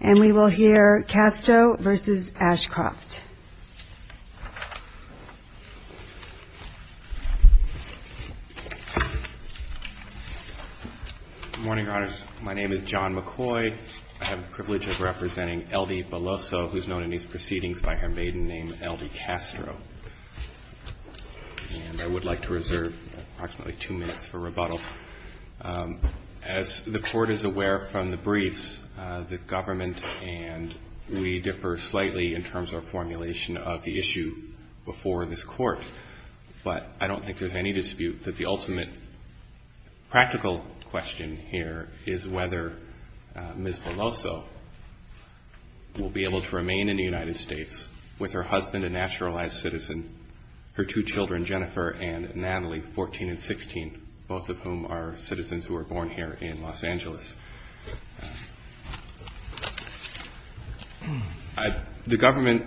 Morning, Your Honors. My name is John McCoy. I have the privilege of representing Eldy Beloso, who is known in these proceedings by her maiden name, Eldy Castro. And I would like to reserve approximately two minutes for rebuttal. As the Court is aware from the briefs, the government and we differ slightly in terms of formulation of the issue before this Court. But I don't think there's any dispute that the ultimate practical question here is whether Ms. Beloso will be able to remain in the United States with her husband, a naturalized citizen, her two children, Jennifer and Natalie, 14 and 16, both of whom are citizens who were born here in Los Angeles. The government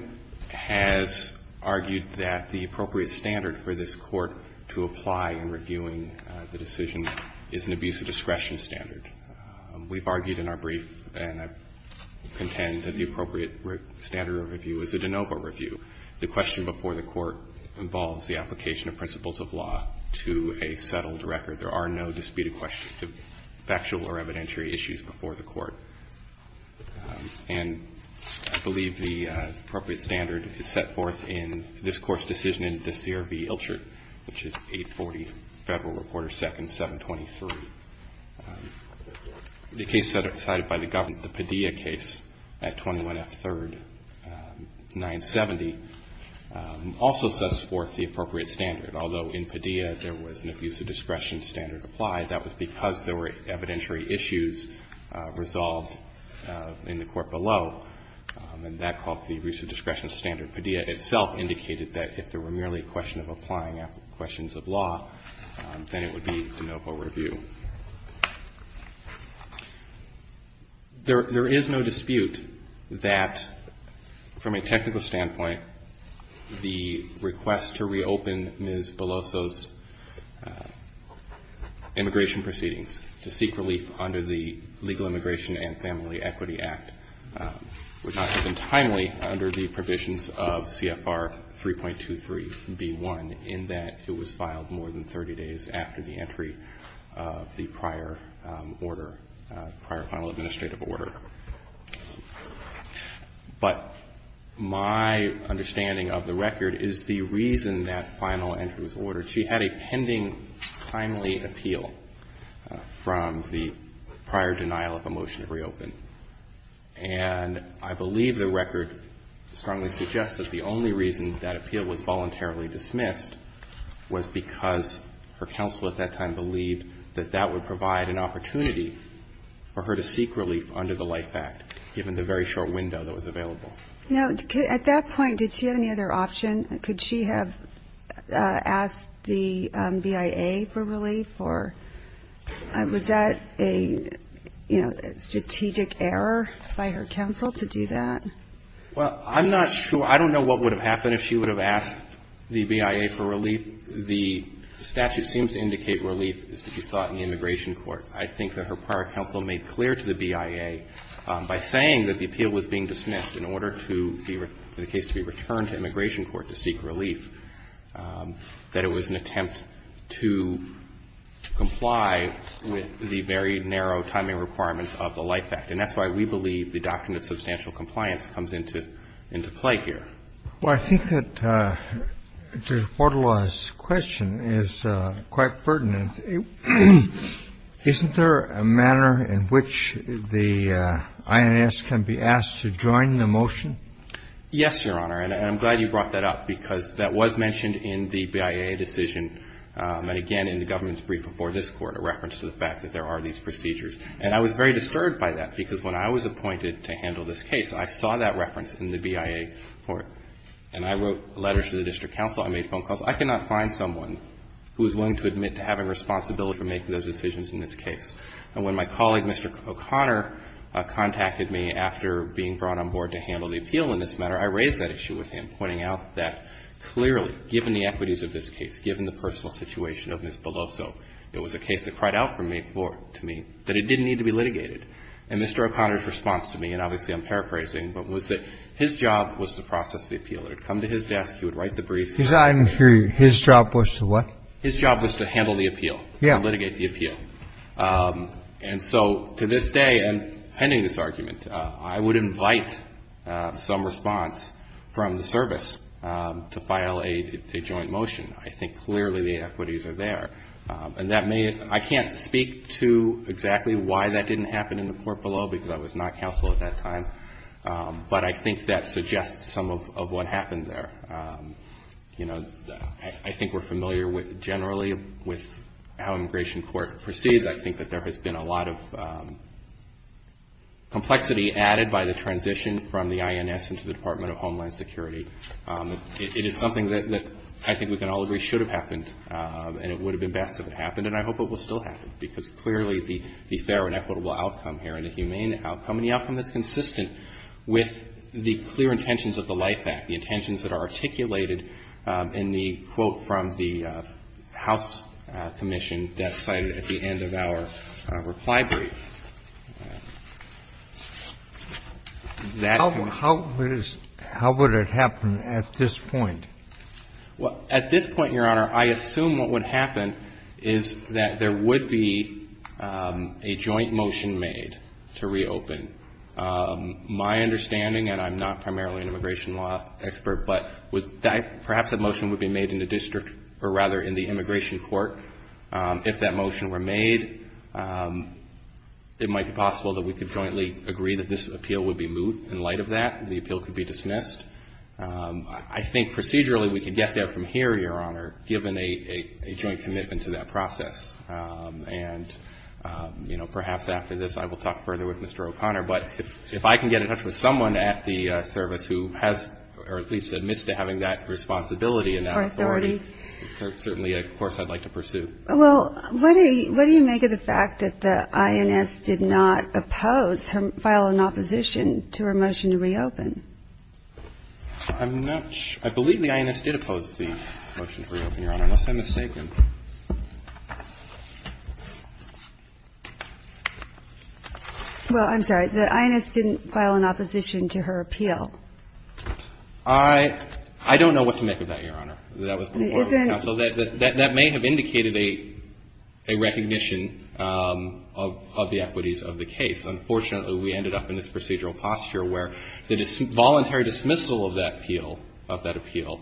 has argued that the appropriate standard for this Court to apply in reviewing the decision is an abuse of discretion standard. We've argued in our brief, and I contend that the appropriate standard of review is a de novo review. The question before the Court is a settled record. There are no disputed questions of factual or evidentiary issues before the Court. And I believe the appropriate standard is set forth in this Court's decision in De Sere v. Ilchert, which is 840 Federal Reporter 2nd, 723. The case cited by the government, the Padilla case at 21F 3rd, 970, also sets forth the appropriate use of discretion standard applied. That was because there were evidentiary issues resolved in the Court below. And that called for the use of discretion standard. Padilla itself indicated that if there were merely a question of applying questions of law, then it would be de novo review. There is no dispute that, from a technical standpoint, the request to reopen Ms. Beloso's immigration proceedings to seek relief under the Legal Immigration and Family Equity Act would not have been timely under the provisions of CFR 3.23b1, in that it was filed more than 30 days after the entry of the prior order, prior final administrative order. But my understanding of the record is the reason that final entry was ordered. She had a pending timely appeal from the prior denial of a motion to reopen. And I believe the record strongly suggests that the only reason that appeal was voluntarily dismissed was because her counsel at that time believed that that would provide an opportunity for her to seek relief under the Life Act, given the very short window that was available. Now, at that point, did she have any other option? Could she have asked the BIA for relief, or was that a, you know, strategic error by her counsel to do that? Well, I'm not sure. I don't know what would have happened if she would have asked the BIA for relief. The statute seems to indicate relief is to be sought in the immigration court. I think that her prior counsel made clear to the BIA, by saying that the appeal was being dismissed in order for the case to be returned to immigration court to seek relief, that it was an attempt to comply with the very narrow timing requirements of the Life Act. And that's why we believe the doctrine of substantial compliance comes into play here. Well, I think that Judge Bordelai's question is quite pertinent. Isn't there a manner in which the INS can be asked to join the motion? Yes, Your Honor. And I'm glad you brought that up, because that was mentioned in the BIA decision, and again, in the government's brief before this Court, a reference to the fact that there are these procedures. And I was very disturbed by that, because when I was appointed to handle this case, I saw that reference in the BIA Court. And I wrote letters to the district counsel. I made phone calls. I cannot find someone who is willing to admit to having responsibility for making those decisions in this case. And when my colleague, Mr. O'Connor, contacted me after being brought on board to handle the appeal in this matter, I raised that issue with him, pointing out that clearly, given the equities of this case, given the personal situation of Ms. Beloso, it was a case that cried out to me that it didn't need to be litigated. And Mr. O'Connor's response to me, and obviously, I'm paraphrasing, but was that his job was to process the appeal. It would come to his desk. He would write the briefs. He's not even here. His job was to what? His job was to handle the appeal. Yeah. Litigate the appeal. And so to this day, pending this argument, I would invite some response from the service to file a joint motion. I think clearly the equities are there. And I can't speak to exactly why that didn't happen in the court below, because I was not counsel at that time. But I think that suggests some of what happened there. You know, I think we're familiar generally with how immigration court proceeds. I think that there has been a lot of complexity added by the transition from the INS into the Department of Homeland Security. It is something that I think we can all agree should have happened, and it would have been best if it happened. And I hope it will still happen, because clearly the fair and equitable outcome here, and the humane outcome, and the outcome that's consistent with the clear intentions of the LIFE Act, the intentions that are articulated in the quote from the House Commission that's cited at the end of our reply brief. How would it happen at this point? At this point, Your Honor, I assume what would happen is that there would be a joint motion made to reopen. My understanding, and I'm not primarily an immigration law expert, but perhaps that motion would be made in the district, or rather in the immigration court. If that motion were made, it might be possible that we could jointly agree that this appeal would be moot in light of that, and the appeal could be dismissed. I think procedurally we could get there from here, Your Honor, given a joint commitment to that process. And, you know, perhaps after this I will talk further with Mr. O'Connor. But if I can get in touch with someone at the service who has, or at least admits to having that responsibility and that authority, certainly, of course, I'd like to pursue. Well, what do you make of the fact that the INS did not oppose, file an opposition to her motion to reopen? I'm not sure. I believe the INS did oppose the motion to reopen, Your Honor, unless I'm mistaken. Well, I'm sorry. The INS didn't file an opposition to her appeal. I don't know what to make of that, Your Honor. That may have indicated a recognition of the equities of the case. Unfortunately, we ended up in this procedural posture where the voluntary dismissal of that appeal,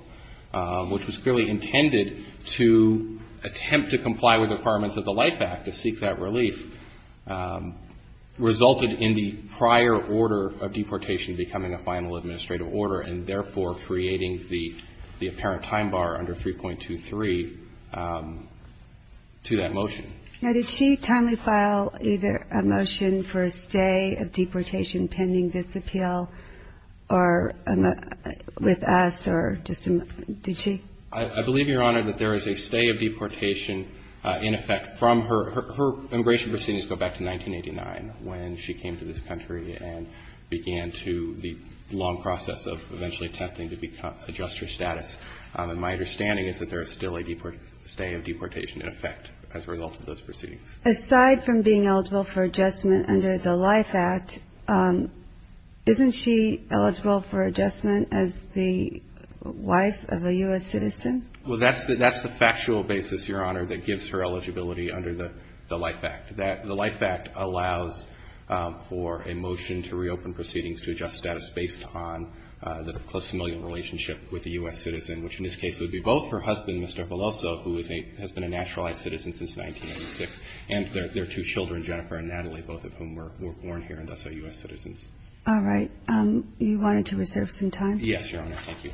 which was clearly intended to attempt to comply with the requirements of the LIFE Act to seek that relief, resulted in the prior order of deportation becoming a final administrative order and therefore creating the apparent time bar under 3.23 to that motion. Now, did she timely file either a motion for a stay of deportation pending this appeal or with us or just a — did she? I believe, Your Honor, that there is a stay of deportation in effect from her — her immigration proceedings go back to 1989 when she came to this country and began to — the long process of eventually attempting to adjust her status. And my understanding is that there is still a stay of deportation in effect as a result of those proceedings. Aside from being eligible for adjustment under the LIFE Act, isn't she eligible for adjustment as the wife of a U.S. citizen? Well, that's the — that's the factual basis, Your Honor, that gives her eligibility under the LIFE Act. The LIFE Act allows for a motion to reopen proceedings to adjust status based on the close familial relationship with a U.S. citizen, which in this case would be both her husband, Mr. Veloso, who is a — has been a naturalized citizen since 1986, and their two children, Jennifer and Natalie, both of whom were born here and thus are U.S. citizens. All right. You wanted to reserve some time? Yes, Your Honor. Thank you.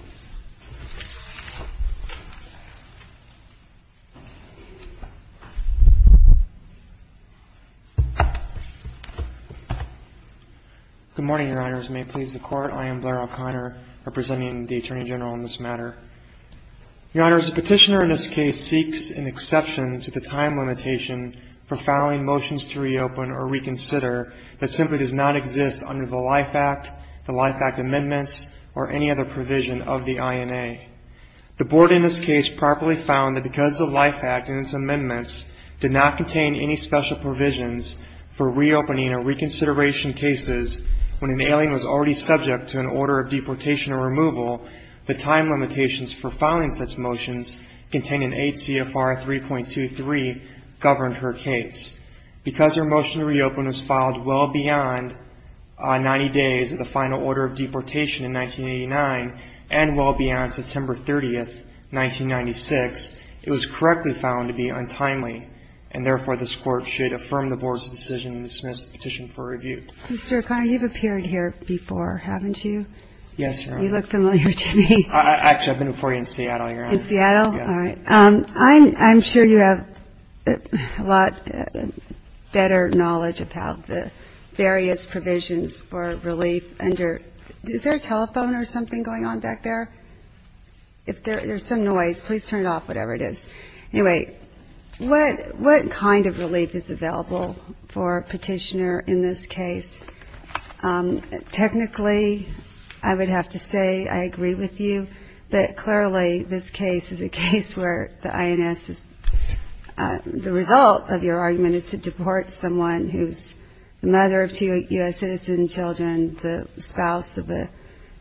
Good morning, Your Honors. May it please the Court, I am Blair O'Connor, representing the Attorney General in this matter. Your Honors, the petitioner in this case seeks an exception to the time limitation for filing motions to reopen or reconsider that simply does not exist under the LIFE Act, the LIFE Act amendments, or any other provision of the INA. The Board in this case properly found that because the LIFE Act and its amendments did not contain any special provisions for reopening or reconsideration cases when an deportation or removal, the time limitations for filing such motions containing 8 CFR 3.23 governed her case. Because her motion to reopen was filed well beyond 90 days of the final order of deportation in 1989 and well beyond September 30, 1996, it was correctly found to be untimely, and therefore, this Court should affirm the Board's decision and dismiss the petition for review. Mr. O'Connor, you've appeared here before, haven't you? Yes, Your Honor. You look familiar to me. Actually, I've been before you in Seattle, Your Honor. In Seattle? All right. I'm sure you have a lot better knowledge about the various provisions for relief under, is there a telephone or something going on back there? If there's some noise, please turn it off, whatever it is. Anyway, what kind of relief is available for a petitioner in this case? Technically, I would have to say I agree with you, but clearly, this case is a case where the INS, the result of your argument is to deport someone who's the mother of two U.S. citizen children, the spouse of a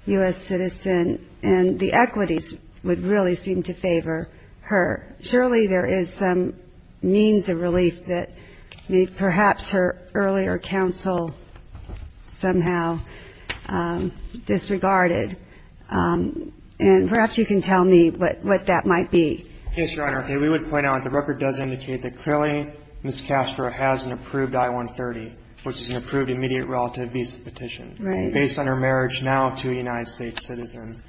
U.S. citizen, and the equities would really seem to favor her. Surely, there is some means of relief that perhaps her earlier counsel somehow disregarded, and perhaps you can tell me what that might be. Yes, Your Honor. We would point out the record does indicate that clearly, Ms. Castro has an approved I-130, which is an approved immediate relative visa petition based on her marriage now to a United States citizen.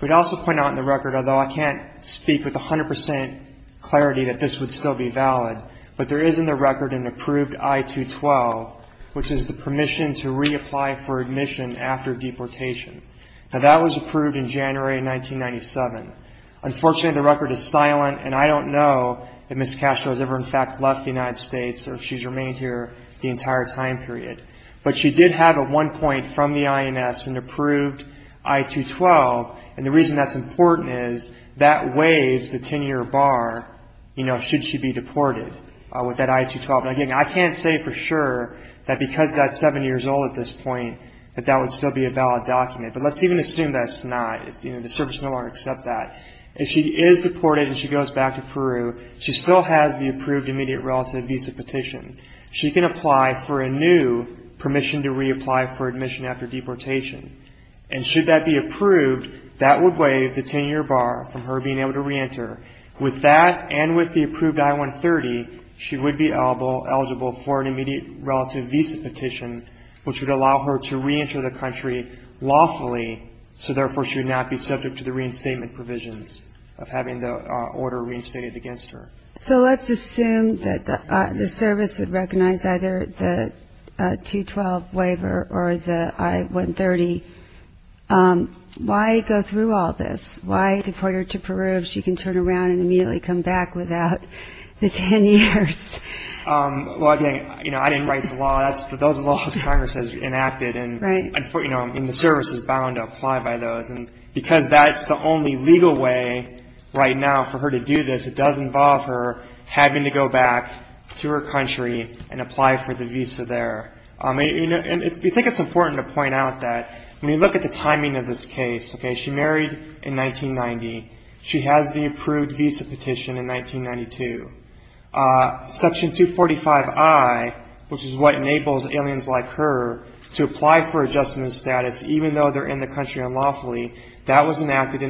We'd also point out in the record, although I can't speak with 100% clarity that this would still be valid, but there is in the record an approved I-212, which is the permission to reapply for admission after deportation. Now, that was approved in January 1997. Unfortunately, the record is silent, and I don't know if Ms. Castro has ever, in fact, left the United States or if she's remained here the entire time period, but she did have at one point from the INS an approved I-212, and the reason that's important is that waives the 10-year bar, you know, should she be deported with that I-212. Again, I can't say for sure that because that's seven years old at this point that that would still be a valid document, but let's even assume that it's not. The service will no longer accept that. If she is deported and she goes back to Peru, she still has the approved immediate relative visa petition. She can apply for a new permission to reapply for admission after deportation, and should that be approved, that would waive the 10-year bar from her being able to reenter. With that and with the approved I-130, she would be eligible for an immediate relative visa petition, which would allow her to reenter the country lawfully, so therefore she would not be subject to the reinstatement provisions of having the order reinstated against her. So let's assume that the service would recognize either the I-212 waiver or the I-130. Why go through all this? Why deport her to Peru if she can turn around and immediately come back without the 10 years? Well, again, you know, I didn't write the law. Those are laws Congress has enacted, and, you know, and the service is bound to apply by those, and because that's the only legal way right now for her to do this, it does involve her having to go back to her country and apply for the visa there. And we think it's important to point out that when you look at the timing of this case, okay, she married in 1990. She has the approved visa petition in 1992. Section 245I, which is what enables aliens like her to apply for a permanent residence in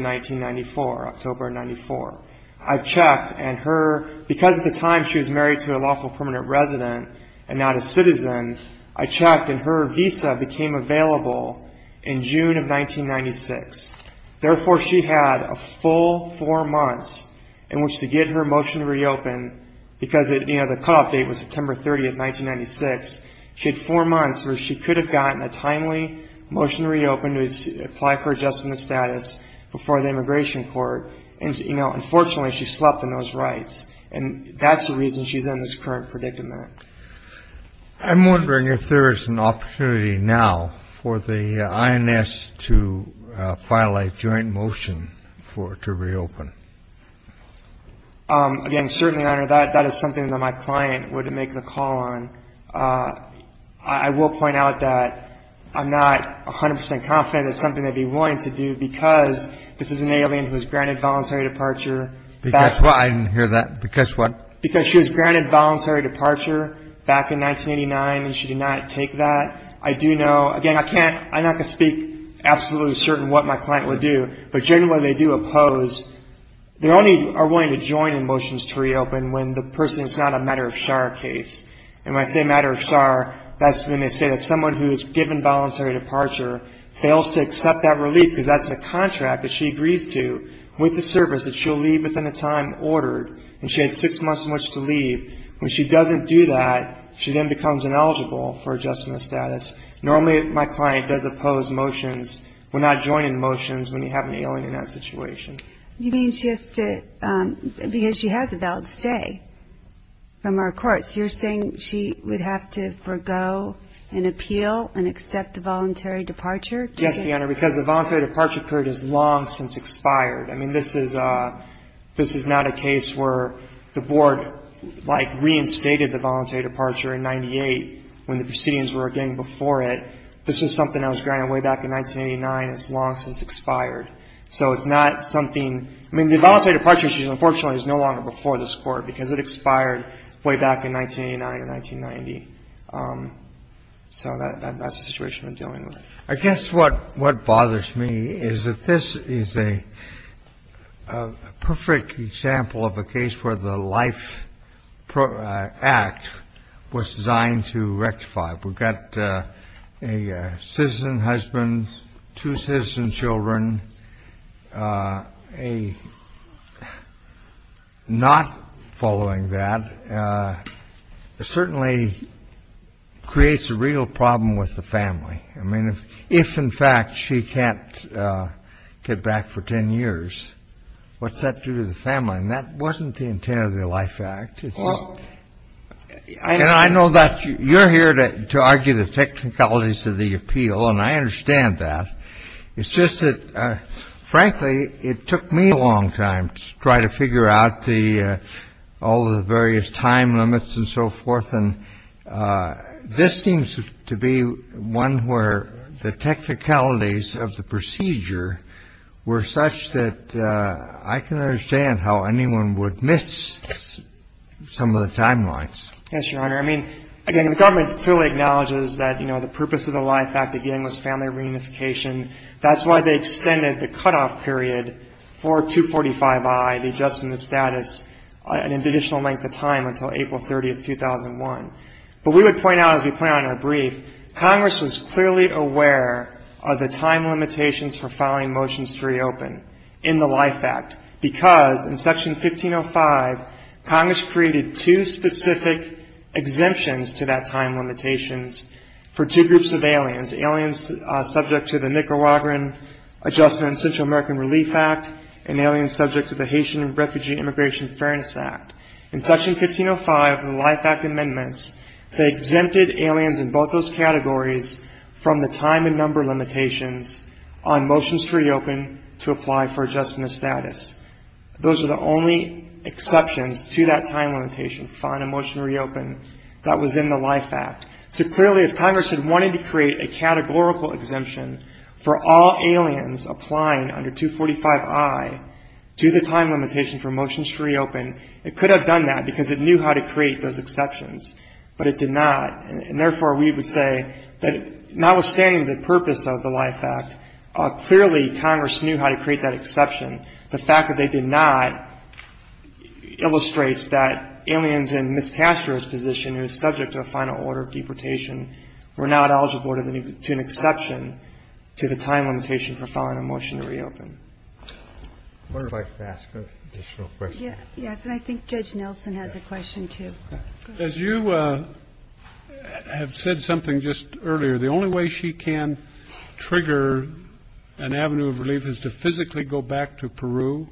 1994, October of 1994. I've checked, and her, because at the time she was married to a lawful permanent resident and not a citizen, I checked, and her visa became available in June of 1996. Therefore, she had a full four months in which to get her motion reopened, because, you know, the cutoff date was September 30, 1996. She had four months where she could have gotten a timely motion reopened to apply for adjustment status before the immigration court, and, you know, unfortunately, she slept on those rights. And that's the reason she's in this current predicament. I'm wondering if there is an opportunity now for the INS to file a joint motion for it to reopen. Again, certainly, Your Honor, that is something that my client would make the call on. I will point out that I'm not 100 percent confident it's something they'd be willing to do, because this is an alien who was granted voluntary departure. Because what? I didn't hear that. Because what? Because she was granted voluntary departure back in 1989, and she did not take that. I do know, again, I can't, I'm not going to speak absolutely certain what my client would do, but generally they do oppose. They only are willing to join in motions to reopen when the person is not a matter-of-char case. And when I say matter-of-char, that's when they say that someone who is given voluntary departure fails to accept that relief, because that's a contract that she agrees to with the service, that she'll leave within the time ordered, and she had six months in which to leave. When she doesn't do that, she then becomes ineligible for adjustment of status. Normally, my client does oppose motions. We're not joining motions when you have an alien in that situation. You mean she has to, because she has a valid stay from our courts. You're saying she would have to forego an appeal and accept the voluntary departure? Yes, Your Honor, because the voluntary departure period is long since expired. I mean, this is not a case where the Board, like, reinstated the voluntary departure in 1998 when the proceedings were again before it. This was something that was granted way back in 1989. It's long since expired. So it's not something – I mean, the voluntary departure issue, unfortunately, is no longer before this Court because it expired way back in 1989 or 1990. So that's the situation we're dealing with. I guess what bothers me is that this is a perfect example of a case where the Life Act was designed to rectify. We've got a citizen husband, two citizen children, not following that. It certainly creates a real problem with the family. I mean, if, in fact, she can't get back for 10 years, what's that do to the family? And that wasn't the intent of the Life Act. It's just – and I know that you're here to argue the technicalities of the appeal, and I understand that. It's just that, frankly, it took me a long time to try to figure out the – all of the various time limits and so forth. And this seems to be one where the technicalities of the procedure were such that I can understand how anyone would miss some of the timelines. Yes, Your Honor. I mean, again, the government clearly acknowledges that, you know, the purpose of the Life Act, again, was family reunification. That's why they extended the cutoff period for 245I, the adjustment of status, an additional length of time until April 30, 2001. But we would point out, as we point out in our brief, Congress was clearly aware of the time limitations for filing Motions to Reopen in the Life Act, because in Section 1505, Congress created two specific exemptions to that time limitations for two groups of aliens, aliens subject to the Nicaraguan Adjustment and Central American Relief Act, and aliens subject to the Haitian and Refugee Immigration Fairness Act. In Section 1505 of the Life Act Amendments, they exempted aliens in both those categories from the time and number limitations on Motions to Reopen to apply for adjustment of status. Those are the only exceptions to that time limitation for filing a Motion to Reopen that was in the Life Act. So clearly, if Congress had created a categorical exemption for all aliens applying under 245I to the time limitation for Motions to Reopen, it could have done that because it knew how to create those exceptions, but it did not. And therefore, we would say that notwithstanding the purpose of the Life Act, clearly Congress knew how to create that exception. The fact that they did not illustrates that aliens in Ms. Castro's position, who is subject to a final order of deportation, were not eligible to an exception to the time limitation for filing a Motion to Reopen. I would like to ask an additional question. Yes. And I think Judge Nelson has a question, too. As you have said something just earlier, the only way she can trigger an avenue of relief is to physically go back to Peru?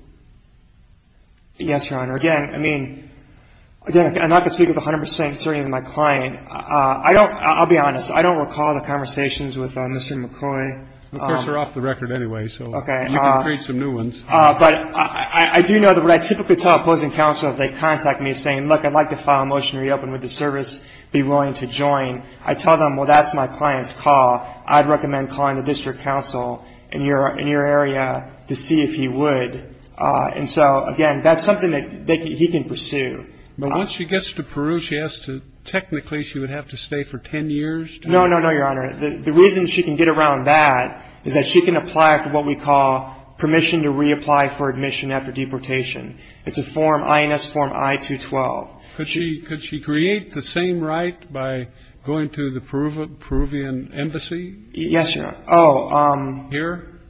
Yes, Your Honor. Again, I mean, again, I'm not going to speak with 100 percent certainty of my client. I don't, I'll be honest, I don't recall the conversations with Mr. McCoy. Of course, they're off the record anyway, so you can create some new ones. But I do know that what I typically tell opposing counsel if they contact me is saying, look, I'd like to file a Motion to Reopen. Would the service be willing to join? I tell them, well, that's my client's call. I'd recommend calling the district counsel in your area to see if he would. And so, again, that's something that he can pursue. But once she gets to Peru, she has to, technically, she would have to stay for 10 years? No, no, no, Your Honor. The reason she can get around that is that she can apply for what we call permission to reapply for admission after deportation. It's a form, INS Form I-212. Could she create the same right by going to the Peruvian embassy? Yes, Your Honor. Here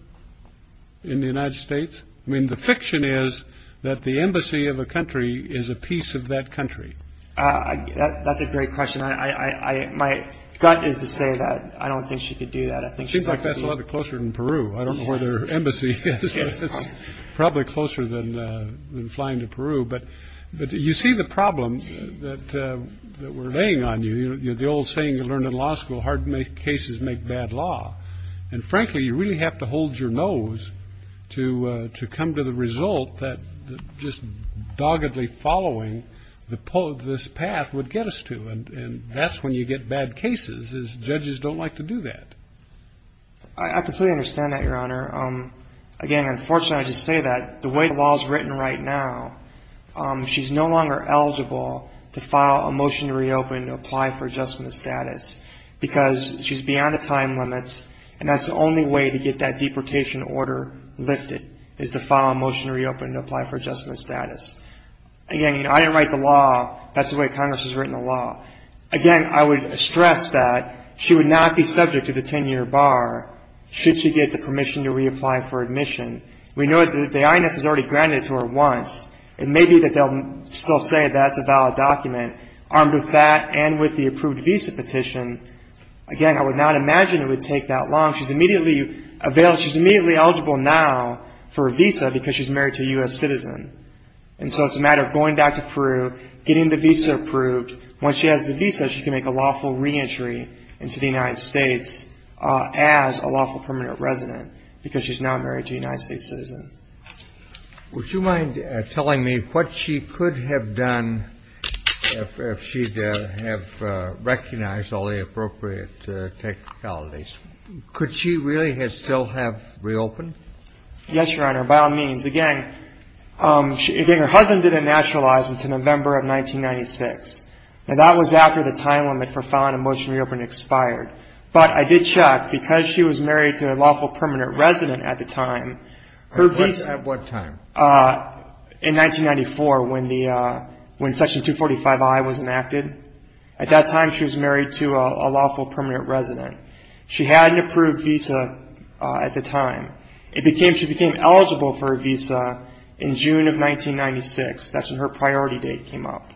in the United States? I mean, the fiction is that the embassy of a country is a piece of that country. That's a great question. My gut is to say that I don't think she could do that. I think she'd like that a lot closer than Peru. I don't know where their embassy is. It's probably closer than flying to Peru. But you see the problem that we're laying on you. The old saying you learn in law school, hard cases make bad law. And frankly, you really have to hold your nose to come to the result that just doggedly following this path would get us to. And that's when you get bad cases, is judges don't like to do that. I completely understand that, Your Honor. Again, unfortunately, I just say that the way the law is written right now, she's no longer eligible to file a motion to reopen to apply for adjustment of status because she's beyond the time limits. And that's the only way to get that deportation order lifted, is to file a motion to reopen to apply for adjustment of status. Again, I didn't write the law. That's the way Congress has written the law. Again, I would stress that she would not be subject to the 10-year bar should she get the permission to reapply for admission. We know that the INS has already granted it to her once. It may be that they'll still say that's a valid document. Armed with that and with the approved visa petition, again, I would not imagine it would take that long. She's immediately available. She's immediately eligible now for a visa because she's married to a U.S. citizen. And so it's a matter of going back to Peru, getting the visa approved. Once she has the visa, she can make a lawful reentry into the United States as a lawful permanent resident because she's now married to a United States citizen. Would you mind telling me what she could have done if she'd have recognized all the appropriate technicalities? Could she really still have reopened? Yes, Your Honor, by all means. Again, her husband didn't naturalize until November of 1996. And that was after the time limit for filing a motion to reopen expired. But I did check. Because she was married to a lawful permanent resident at the time, her visa at what time? In 1994 when Section 245I was enacted. At that time, she was married to a lawful permanent resident. She had an approved visa at the time. She became eligible for a visa in June of 1996. That's when her priority date came up.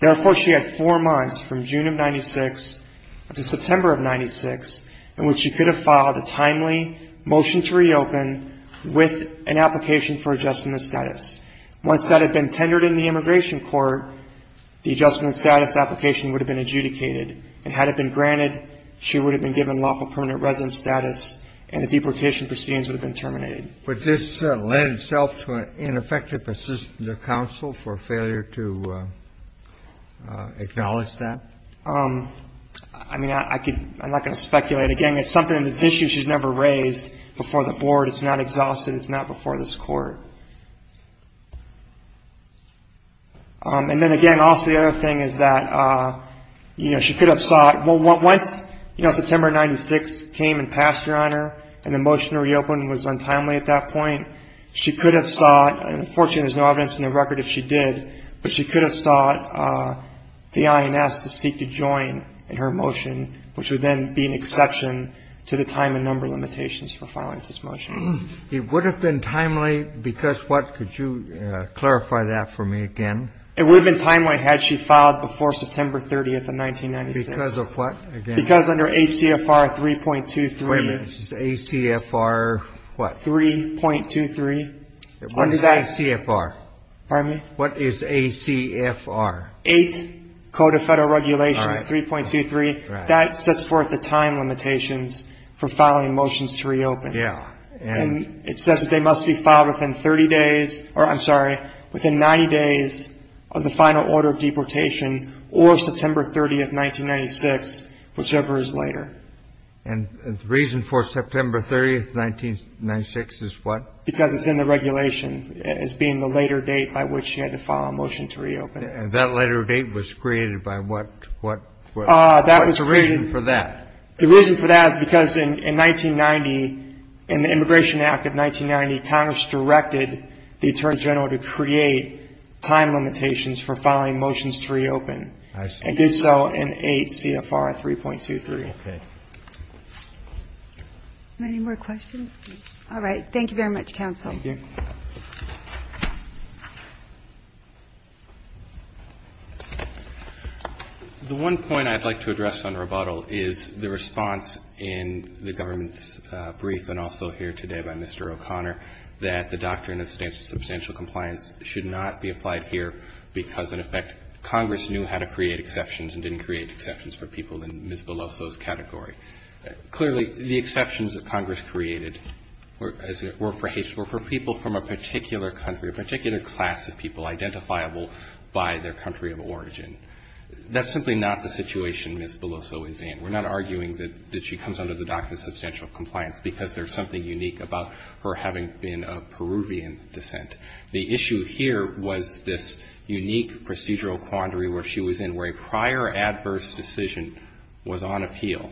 Therefore, she had four months from June of 96 to September of 96 in which she could have filed a timely motion to reopen with an application for adjustment of status. Once that had been tendered in the immigration court, the adjustment of status application would have been adjudicated. And had it been granted, she would have been given lawful permanent resident status and the deportation proceedings would have been terminated. Would this lend itself to an ineffective assistance of counsel for failure to acknowledge that? I'm not going to speculate. Again, it's something that's an issue she's never raised before the board. It's not exhausted. It's not before this court. And then again, also the other thing is that she could have sought, once September 96 came and passed her honor and the motion to reopen was untimely at that point, she could have sought, and unfortunately there's no evidence in the record if she did, but she could have sought the INS to seek to join in her motion, which would then be an exception to the time and number limitations for filing this motion. It would have been timely because what? Could you clarify that for me again? It would have been timely had she filed before September 30th of 1996. Because of what? Because under ACFR 3.23. ACFR what? 3.23. What is ACFR? Pardon me? What is ACFR? 8 Code of Federal Regulations 3.23. That sets forth the time limitations for filing motions to reopen. Yeah. And it says that they must be filed within 30 days, or I'm sorry, within 90 days of the final order of deportation or September 30th, 1996, whichever is later. And the reason for September 30th, 1996 is what? Because it's in the regulation as being the later date by which she had to file a motion to reopen. And that later date was created by what? What's the reason for that? The reason for that is because in 1990, in the Immigration Act of 1990, Congress directed the Attorney General to create time limitations for filing motions to reopen. I see. And did so in 8 CFR 3.23. Okay. Any more questions? All right. Thank you very much, Counsel. Thank you. The one point I'd like to address on rebuttal is the response in the government's brief, and also here today by Mr. O'Connor, that the doctrine of substantial compliance should not be applied here because, in effect, Congress knew how to create exceptions and didn't create exceptions for people in Ms. Beloso's category. Clearly, the exceptions that Congress created were for people from a particular country, a particular class of people identifiable by their country of origin. That's simply not the situation Ms. Beloso is in. We're not arguing that she comes under the doctrine of substantial compliance because there's something unique about her having been of Peruvian descent. The issue here was this unique procedural quandary where she was in, where a prior adverse decision was on appeal,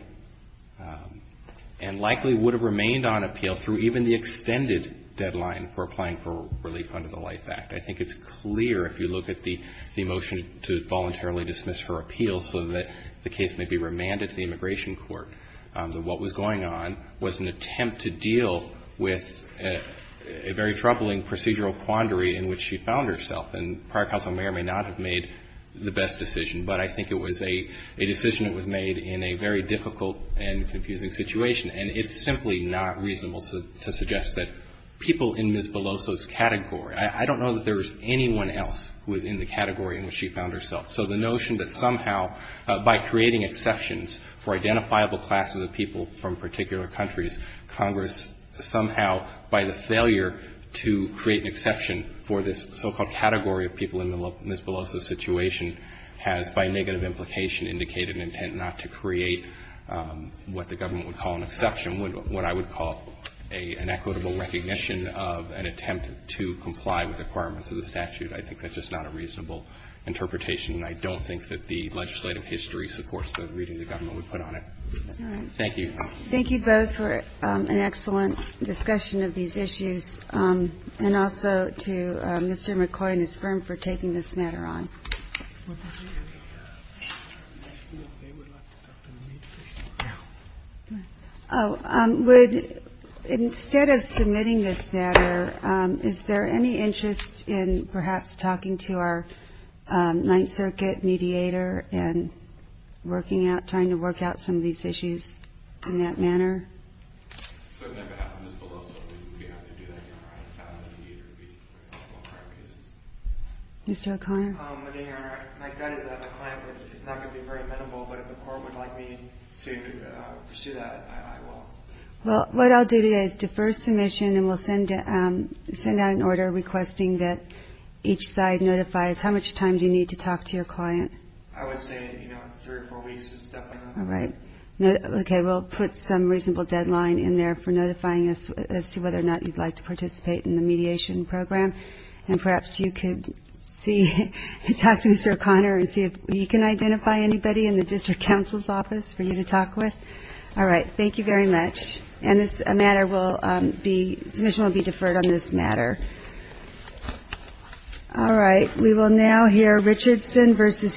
and likely would have remained on appeal through even the extended deadline for applying for relief under the LIFE Act. I think it's clear, if you look at the motion to voluntarily dismiss her appeal so that the case may be remanded to the immigration court, that what was going on was an attempt to deal with a very troubling procedural quandary in which she found herself. And prior counsel Mayer may not have made the best decision, but I think it was a decision that was made in a very difficult and confusing situation. And it's simply not reasonable to suggest that people in Ms. Beloso's category – I don't know that there was anyone else who was in the category in which she found herself. So the notion that somehow, by creating exceptions for identifiable classes of people from particular countries, Congress somehow, by the failure to create an exception for this so-called category of people in Ms. Beloso's situation, has, by negative implication, indicated an intent not to create what the government would call an exception, what I would call an equitable recognition of an attempt to comply with the requirements of the statute. I think that's just not a reasonable interpretation, and I don't think that the legislative history supports the reading the government would put on it. Thank you. Thank you both for an excellent discussion of these issues, and also to Mr. McCoy and his firm for taking this matter on. Instead of submitting this matter, is there any interest in perhaps talking to our Ninth Court in that manner? Mr. O'Connor? Well, what I'll do today is defer submission, and we'll send out an order requesting that each side notifies how much time do you need to talk to your client. I would say, you know, three or four weeks is definitely enough. All right. Okay. We'll put some reasonable deadline in there for notifying us as to whether or not you'd like to participate in the mediation program, and perhaps you could see, talk to Mr. O'Connor and see if you can identify anybody in the district counsel's office for you to talk with. All right. Thank you very much. And this matter will be, submission will be deferred on this matter. All right. We will now hear Richardson v. Cary.